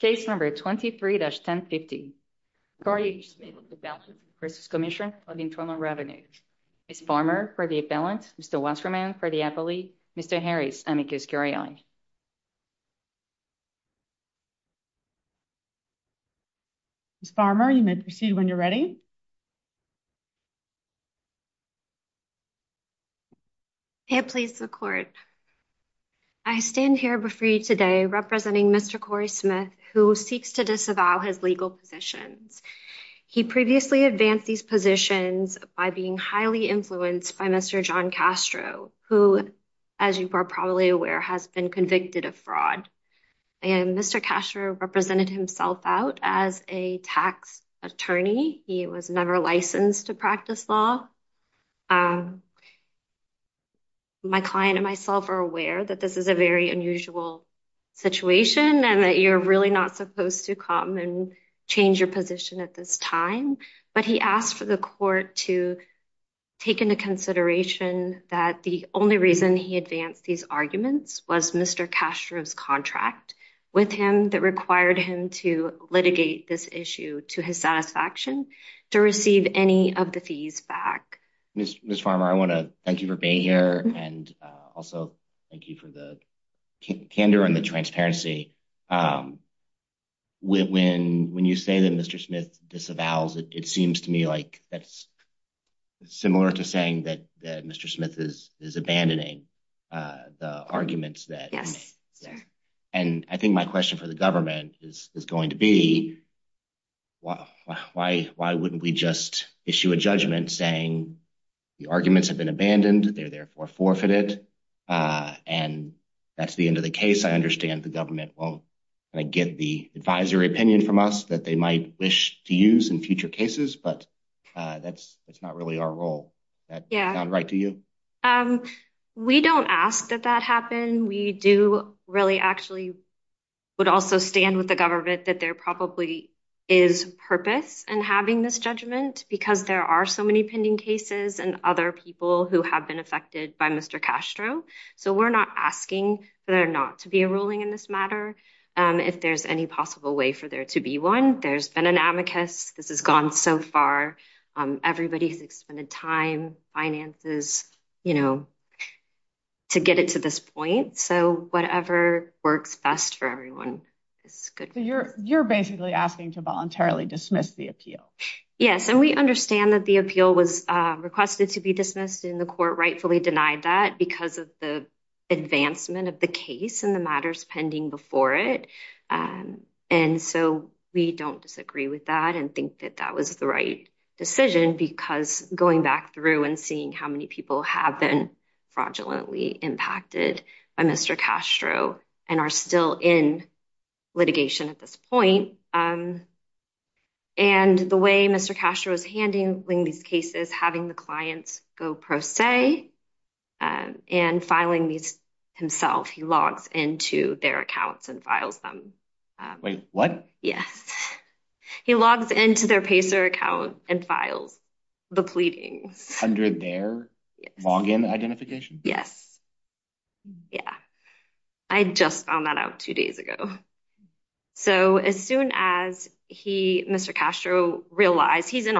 Case number 23-1050. Corey Smith v. Cmsnr. Ms. Farmer for the appellant. Mr. Wasserman for the appellee. Mr. Harris. Ms. Farmer, you may proceed when you're ready. I stand here before you today representing Mr. Corey Smith, who seeks to disavow his legal positions. He previously advanced these positions by being highly influenced by Mr. John Castro, who, as you are probably aware, has been convicted of fraud. And Mr. Castro represented himself out as a tax attorney. He was never licensed to practice law. My client and myself are aware that this is a very unusual situation and that you're really not supposed to come and change your position at this time. But he asked for the court to take into consideration that the only reason he advanced these arguments was Mr. Castro's contract with him that required him to this issue to his satisfaction to receive any of the fees back. Ms. Farmer, I want to thank you for being here and also thank you for the candor and the transparency. When you say that Mr. Smith disavows, it seems to me like that's similar to saying that Mr. Smith is abandoning the arguments. And I think my question for the government is going to be, why wouldn't we just issue a judgment saying the arguments have been abandoned, they're therefore forfeited, and that's the end of the case? I understand the government won't get the advisory opinion from us that they might wish to use in future cases, but that's not really our role. That sound right to you? Um, we don't ask that that happen. We do really actually would also stand with the government that there probably is purpose in having this judgment because there are so many pending cases and other people who have been affected by Mr. Castro. So we're not asking for there not to be a ruling in this matter. If there's any possible way for there to be one, there's been an amicus, this has gone so far. Everybody's expended time, finances, you know, to get it to this point. So whatever works best for everyone is good. You're basically asking to voluntarily dismiss the appeal. Yes, and we understand that the appeal was requested to be dismissed and the court rightfully denied that because of the advancement of the case and the matters pending before it. And so we don't disagree with that and think that that was the right decision because going back through and seeing how many people have been fraudulently impacted by Mr. Castro and are still in litigation at this point and the way Mr. Castro is handling these cases, having the clients go pro se and filing these himself, he logs into their accounts and files them. Wait, what? Yes. He logs into their Pacer account and files the pleadings. Under their login identification? Yes. Yeah. I just found that out two days ago. So as soon as he, Mr. Castro realized he's in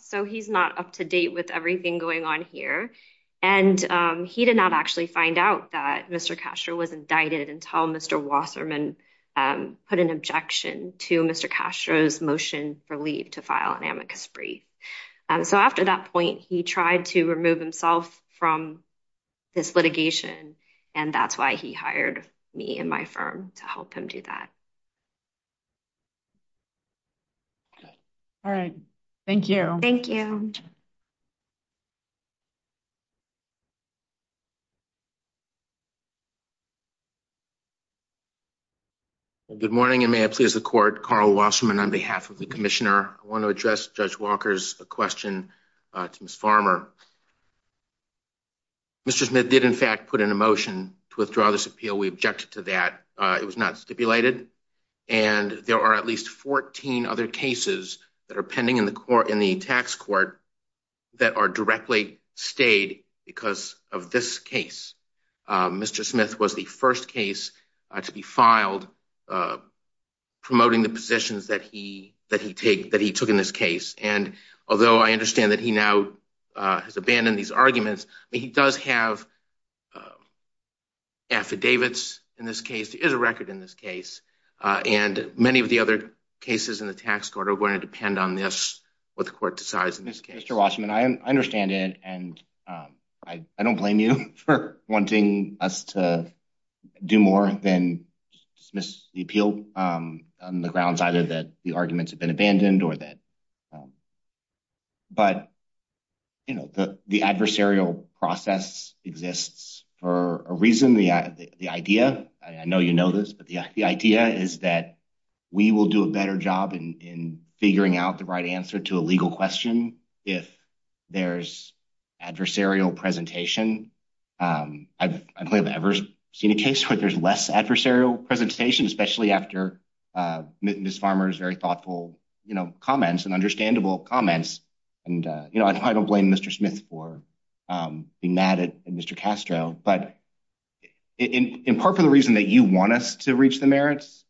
so he's not up to date with everything going on here and he did not actually find out that Mr. Castro was indicted until Mr. Wasserman put an objection to Mr. Castro's motion for leave to file an amicus brief. So after that point, he tried to remove himself from this litigation and that's why he hired me and my firm to help him do that. Okay. All right. Thank you. Good morning and may I please the court. Carl Wasserman on behalf of the commissioner. I want to address Judge Walker's question to Ms. Farmer. Mr. Smith did in fact put in a motion to withdraw this appeal. We objected to that. It was not stipulated and there are at least 14 other cases that are pending in the tax court that are directly stayed because of this case. Mr. Smith was the first case to be filed promoting the positions that he took in this case and although I understand that he now has abandoned these arguments, he does have affidavits in this case. There is a record in this case and many of the other cases in the tax court are going to depend on this, what the court decides in this case. Mr. Wasserman, I understand it and I don't blame you for wanting us to do more than dismiss the appeal on the grounds either that the arguments have been abandoned or that, but the adversarial process exists for a reason. The idea, I know you know this, but the idea is that we will do a better job in figuring out the right answer to a legal question if there's adversarial presentation. I don't think I've ever seen a case where there's less adversarial presentation, especially after Ms. Farmer's very thoughtful comments and understandable comments. I don't blame Mr. Smith for being mad at Mr. Castro, but in part for the reason that you want us to reach the merits,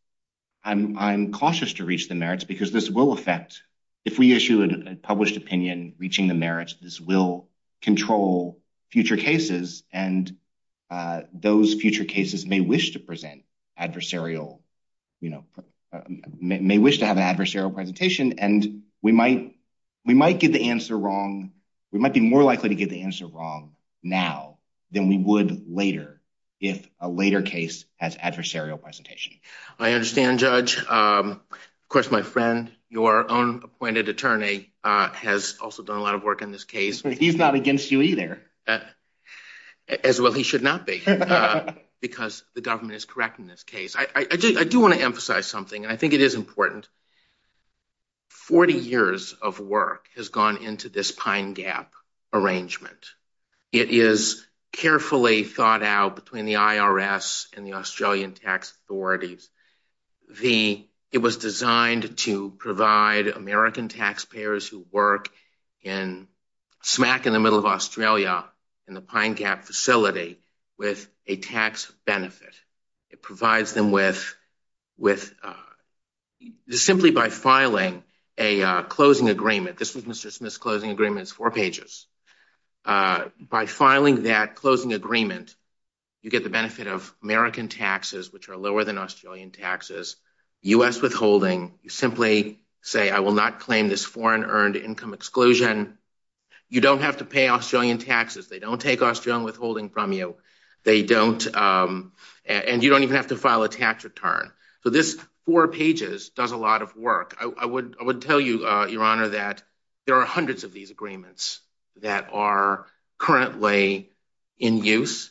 I'm cautious to reach the merits because this will affect, if we issue a published opinion reaching the merits, this will control future cases and those future cases may wish to present adversarial, you know, may wish to have an adversarial presentation and we might get the answer wrong. We might be more likely to get the answer wrong now than we would later if a later case has adversarial presentation. I understand, Judge. Of course, my friend, your own appointed attorney has also done a lot of work in this case. He's not against you either. As well, he should not be because the government is correct in this case. I do want to emphasize something and I think it is important. Forty years of work has gone into this Pine Gap arrangement. It is carefully thought out between the IRS and the Australian tax authorities. It was designed to provide American taxpayers who in smack in the middle of Australia in the Pine Gap facility with a tax benefit. It provides them simply by filing a closing agreement. This was Mr. Smith's closing agreement. It's four pages. By filing that closing agreement, you get the benefit of American taxes, which are lower than exclusion. You don't have to pay Australian taxes. They don't take Australian withholding from you. You don't even have to file a tax return. This four pages does a lot of work. I would tell you, Your Honor, that there are hundreds of these agreements that are currently in use.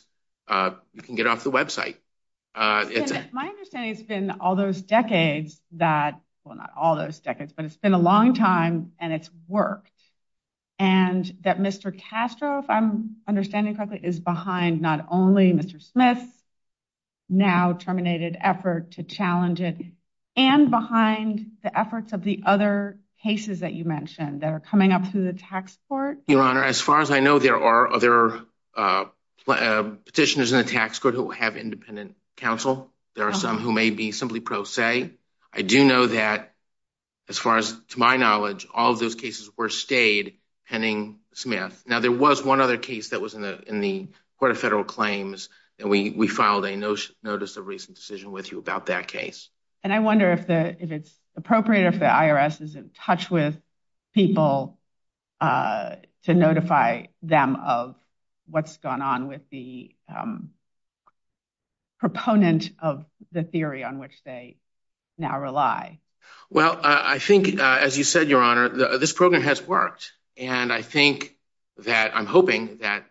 You can get off the website. My understanding has been all those decades, that well, not all those decades, but it's been a long time and it's worked and that Mr. Castro, if I'm understanding correctly, is behind not only Mr. Smith's now terminated effort to challenge it and behind the efforts of the other cases that you mentioned that are coming up through the tax court. Your Honor, as far as I know, there are other petitioners in the tax court who have independent counsel. There are some who may be simply pro se. I do know that, as far as to my knowledge, all of those cases were stayed pending Smith. Now, there was one other case that was in the Court of Federal Claims and we filed a notice of recent decision with you about that case. And I wonder if it's appropriate if the IRS is in touch with people to notify them of what's gone on with the proponent of the theory on which they now rely. Well, I think, as you said, Your Honor, this program has worked and I think that I'm hoping that,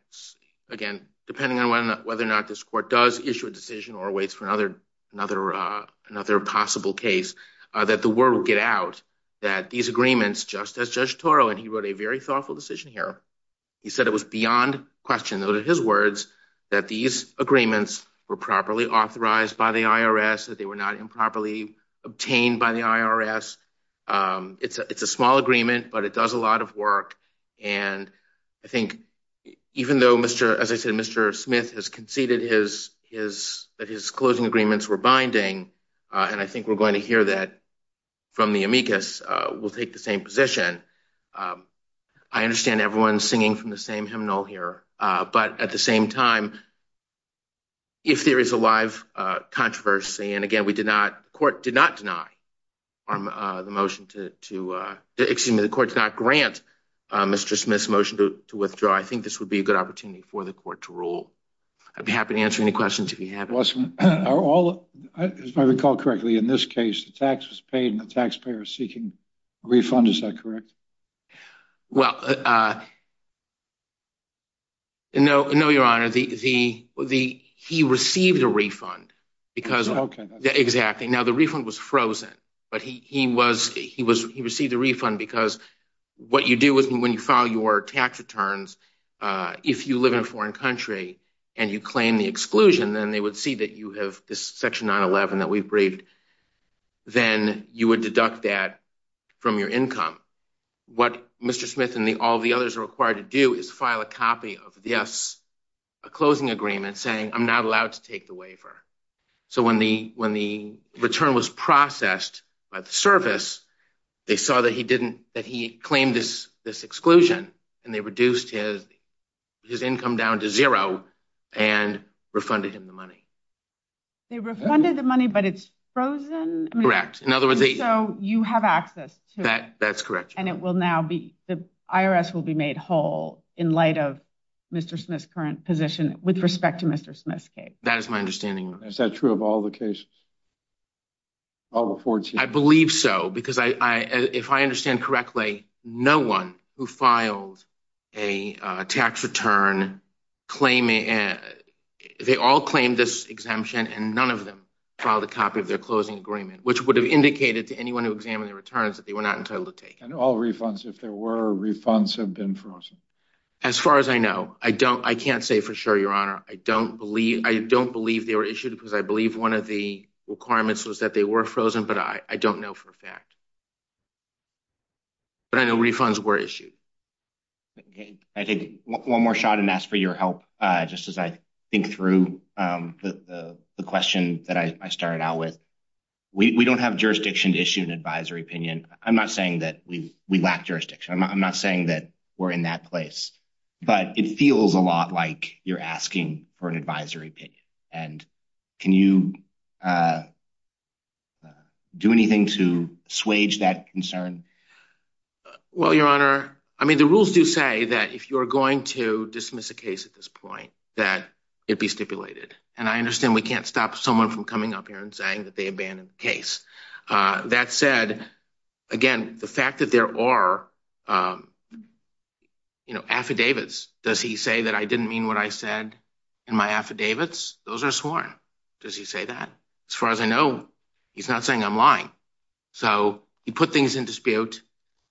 again, depending on whether or not this court does issue a decision or waits for another possible case, that the world will get out that these agreements, just as Judge Toro, and he wrote a very thoughtful decision here, he said it was beyond question, those are his words, that these agreements were properly authorized by the IRS, that they were not improperly obtained by the IRS. It's a small agreement, but it does a lot of work. And I think even though, as I said, Mr. Smith has conceded that his closing agreements were binding, and I think we're going to hear that from the amicus, we'll take the same position. I understand everyone's singing from the same hymnal here, but at the same time, if there is a live controversy, and again, we did not, court did not deny the motion to, excuse me, the court did not grant Mr. Smith's motion to withdraw, I think this would be a good opportunity for the court to rule. I'd be happy to answer any questions if you have any. If I recall correctly, in this case, the tax was paid and the taxpayer is seeking a refund, is that correct? Well, no, your honor, he received a refund because, exactly, now the refund was frozen, but he received a refund because what you do when you tax returns, if you live in a foreign country and you claim the exclusion, then they would see that you have this section 911 that we've briefed, then you would deduct that from your income. What Mr. Smith and all the others are required to do is file a copy of this closing agreement saying, I'm not allowed to take the waiver. So when the return was processed by service, they saw that he claimed this exclusion and they reduced his income down to zero and refunded him the money. They refunded the money, but it's frozen? Correct. In other words, you have access to it. That's correct. And the IRS will be made whole in light of Mr. Smith's current position with respect to Mr. Smith's case. That is my understanding. Is that true of all the cases? All the 14? I believe so, because if I understand correctly, no one who filed a tax return, they all claimed this exemption and none of them filed a copy of their closing agreement, which would have indicated to anyone who examined the returns that they were not entitled to take. And all refunds, if there were refunds, have been frozen? As far as I know, I can't say for sure, I don't believe they were issued because I believe one of the requirements was that they were frozen, but I don't know for a fact. But I know refunds were issued. I'll take one more shot and ask for your help just as I think through the question that I started out with. We don't have jurisdiction to issue an advisory opinion. I'm not saying that we lack jurisdiction. I'm not saying that we're in that place. But it feels a lot like you're asking for an advisory opinion. And can you do anything to swage that concern? Well, Your Honor, I mean, the rules do say that if you're going to dismiss a case at this point, that it be stipulated. And I understand we can't stop someone from coming up here and saying that they abandoned the case. That said, again, the fact that there are affidavits, does he say that I didn't mean what I said in my affidavits? Those are sworn. Does he say that? As far as I know, he's not saying I'm lying. So he put things in dispute.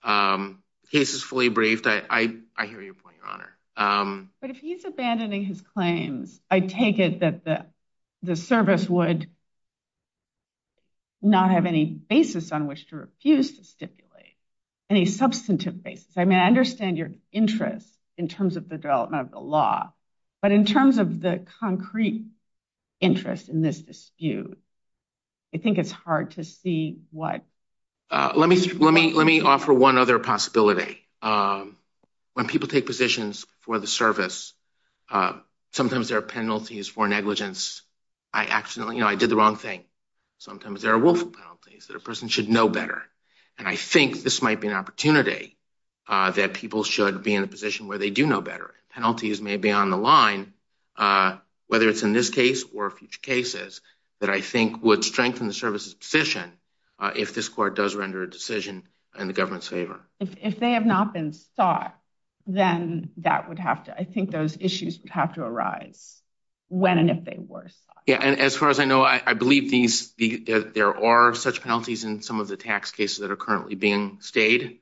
The case is fully briefed. I hear your point, Your Honor. But if he's abandoning his claims, I take it that the service would not have any basis on which to refuse to stipulate, any substantive basis. I mean, I understand your interest in terms of the development of the law. But in terms of the concrete interest in this dispute, I think it's hard to see what. Let me offer one other possibility. When people take positions for the service, sometimes there are penalties for negligence. I accidentally, you know, I did the wrong thing. Sometimes there are willful penalties that a person should know better. And I think this might be an opportunity that people should be in a position where they do know better. Penalties may be on the line, whether it's in this case or future cases, that I think would strengthen the service's position if this court does render a decision in the government's favor. If they have not been sought, then that would have to, I think those issues would have to arise when and if they were sought. Yeah, and as far as I believe, there are such penalties in some of the tax cases that are currently being stayed.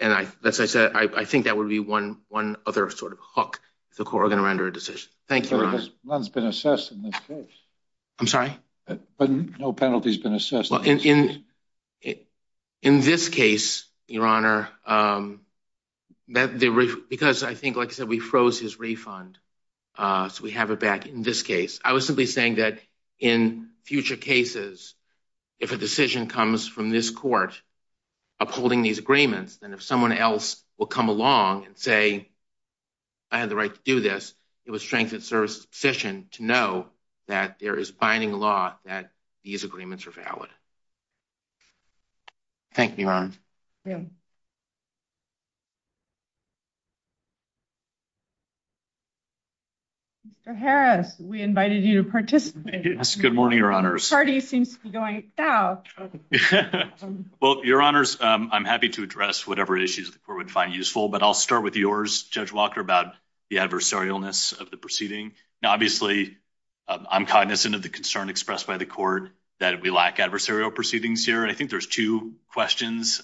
And as I said, I think that would be one other sort of hook if the court were going to render a decision. Thank you, Your Honor. None's been assessed in this case. I'm sorry? No penalty's been assessed. In this case, Your Honor, because I think, like I said, we froze his refund, so we have it back in this case. I was simply saying that in future cases, if a decision comes from this court upholding these agreements, then if someone else will come along and say, I had the right to do this, it would strengthen service's position to know that there is binding law that these agreements are valid. Thank you, Your Honor. Mr. Harris, we invited you to participate. Yes, good morning, Your Honors. Well, Your Honors, I'm happy to address whatever issues the court would find useful, but I'll start with yours, Judge Walker, about the adversarialness of the proceeding. Now, I'm cognizant of the concern expressed by the court that we lack adversarial proceedings here, and I think there's two questions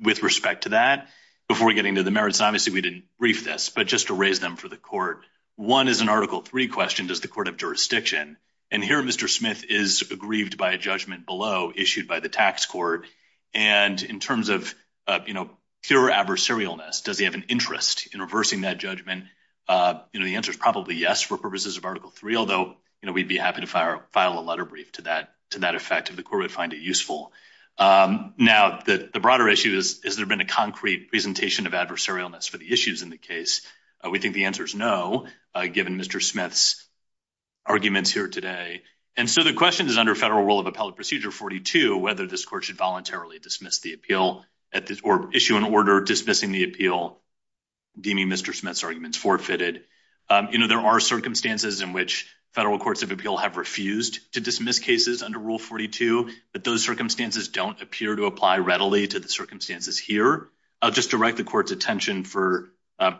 with respect to that. Before we get into the merits, obviously, we didn't brief this, but just to raise them for the court, one is an Article III question, does the court have jurisdiction? And here, Mr. Smith is aggrieved by a judgment below, issued by the tax court, and in terms of pure adversarialness, does he have an interest in reversing that judgment? The answer is probably yes for purposes of Article III, although we'd be happy to file a letter brief to that effect if the court would find it useful. Now, the broader issue is, has there been a concrete presentation of adversarialness for the issues in the case? We think the answer is no, given Mr. Smith's arguments here today. And so the question is, under federal rule of appellate procedure 42, whether this court should voluntarily dismiss appeal, or issue an order dismissing the appeal, deeming Mr. Smith's arguments forfeited. There are circumstances in which federal courts of appeal have refused to dismiss cases under rule 42, but those circumstances don't appear to apply readily to the circumstances here. I'll just direct the court's attention for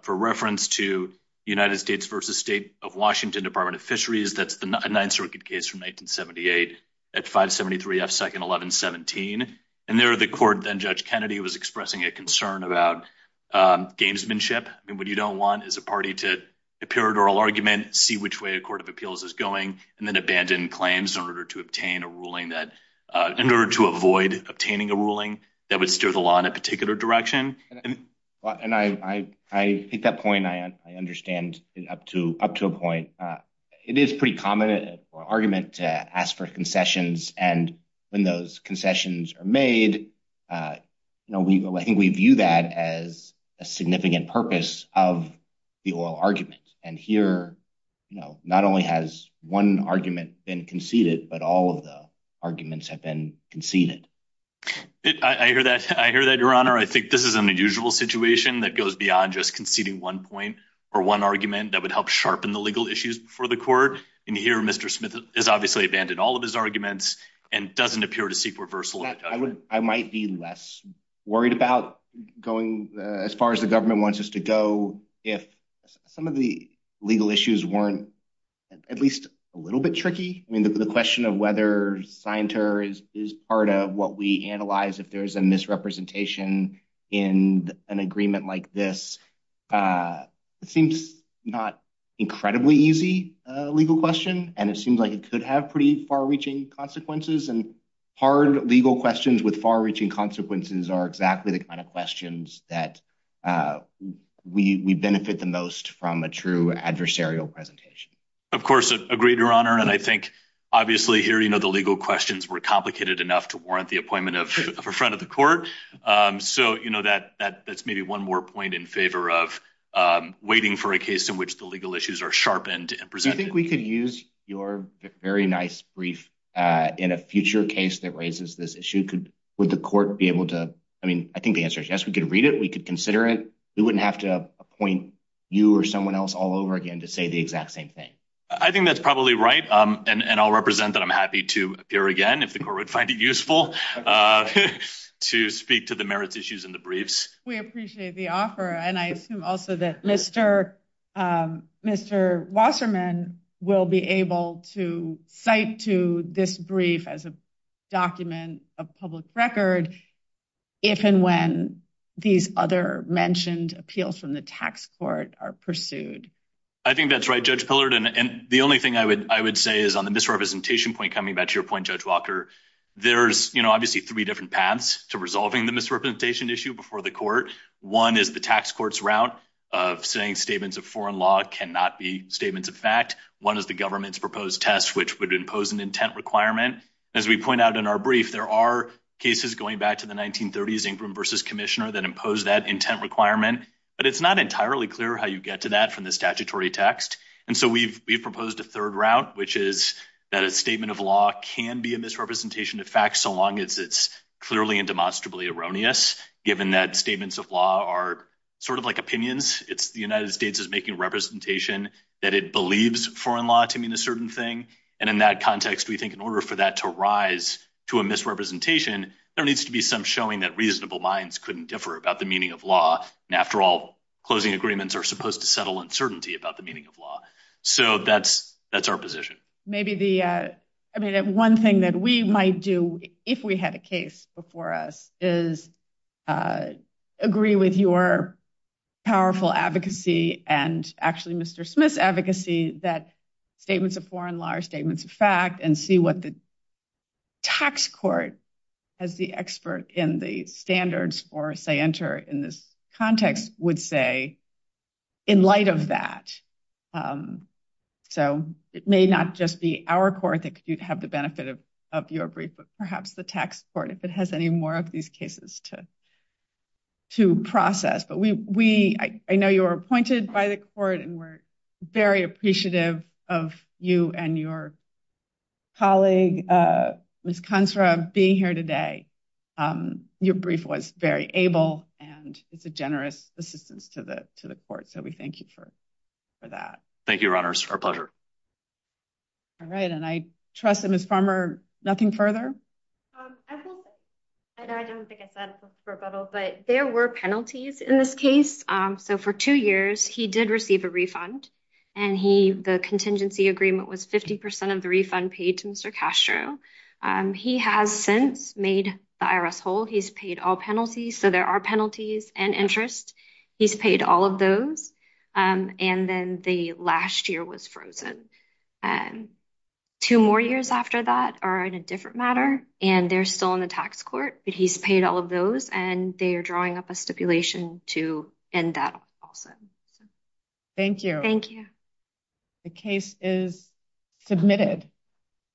reference to United States v. State of Washington Department of Fisheries, that's the Ninth Circuit case from 1978 at 573 F. 2nd 1117, and there the court, then Judge Kennedy, was expressing a concern about gamesmanship. I mean, what you don't want is a party to appear at oral argument, see which way a court of appeals is going, and then abandon claims in order to obtain a ruling that, in order to avoid obtaining a ruling that would steer the law in a particular direction. And I take that point, I understand up to a point. It is pretty common for argument to ask for concessions, and when those concessions are made, you know, we, I think we view that as a significant purpose of the oral argument, and here, you know, not only has one argument been conceded, but all of the arguments have been conceded. I hear that, I hear that, your honor. I think this is an unusual situation that goes beyond just conceding one point or one argument that would help sharpen the legal issues before the court, and here Mr. Smith has obviously abandoned all of his arguments and doesn't appear to seek reversal. I would, I might be less worried about going as far as the government wants us to go if some of the legal issues weren't at least a little bit tricky. I mean, the question of whether scienter is part of what we analyze if there's a misrepresentation in an agreement like this seems not incredibly easy legal question, and it seems like it could have pretty far-reaching consequences, and hard legal questions with far-reaching consequences are exactly the kind of questions that we benefit the most from a true adversarial presentation. Of course, agreed, your honor, and I think obviously here, you know, the legal questions were complicated enough to warrant the appointment of a friend of the court, so, you know, that that's maybe one more point in favor of waiting for a case in which the legal issues are sharpened Do you think we could use your very nice brief in a future case that raises this issue? Would the court be able to, I mean, I think the answer is yes, we could read it, we could consider it, we wouldn't have to appoint you or someone else all over again to say the exact same thing. I think that's probably right, and I'll represent that I'm happy to appear again if the court would find it useful to speak to the merits issues in the briefs. We appreciate the offer, and I assume also that Mr. Wasserman will be able to cite to this brief as a document of public record if and when these other mentioned appeals from the tax court are pursued. I think that's right, Judge Pillard, and the only thing I would say is on the misrepresentation point coming back to your point, Judge Walker, there's, you know, obviously three different paths to resolving the misrepresentation issue before the court. One is the tax court's route of saying statements of foreign law cannot be statements of fact. One is the government's proposed test, which would impose an intent requirement. As we point out in our brief, there are cases going back to the 1930s, Ingram versus Commissioner, that impose that intent requirement, but it's not entirely clear how you get to that from the statutory text, and so we've proposed a third route, which is that a statement of law can be a misrepresentation of fact so long as it's clearly and demonstrably erroneous, given that statements of law are sort of like opinions. It's the United States is making representation that it believes foreign law to mean a certain thing, and in that context, we think in order for that to rise to a misrepresentation, there needs to be some showing that reasonable minds couldn't differ about the meaning of law, and after all, closing agreements are supposed to settle uncertainty about the meaning of law. So that's our position. One thing that we might do if we had a case before us is agree with your powerful advocacy, and actually Mr. Smith's advocacy, that statements of foreign law are statements of fact, and see what the tax court, as the expert in the standards for in this context, would say in light of that. So it may not just be our court that could have the benefit of your brief, but perhaps the tax court, if it has any more of these cases to process, but I know you were appointed by the court, and we're very appreciative of you and your colleague, Ms. Consra, being here today. Your brief was very able, and it's a generous assistance to the court, so we thank you for that. Thank you, Your Honors, our pleasure. All right, and I trust that Ms. Farmer, nothing further? I don't think I said it verbatim, but there were penalties in this case. So for two years, he did receive a refund, and the contingency agreement was 50% of the refund paid to Mr. Castro. He has since made the IRS whole. He's paid all penalties, so there are penalties and interest. He's paid all of those, and then the last year was frozen. Two more years after that are in a different matter, and they're still in the tax court, but he's paid all of those, and they are drawing up a stipulation to end that also. Thank you. Thank you. The case is submitted.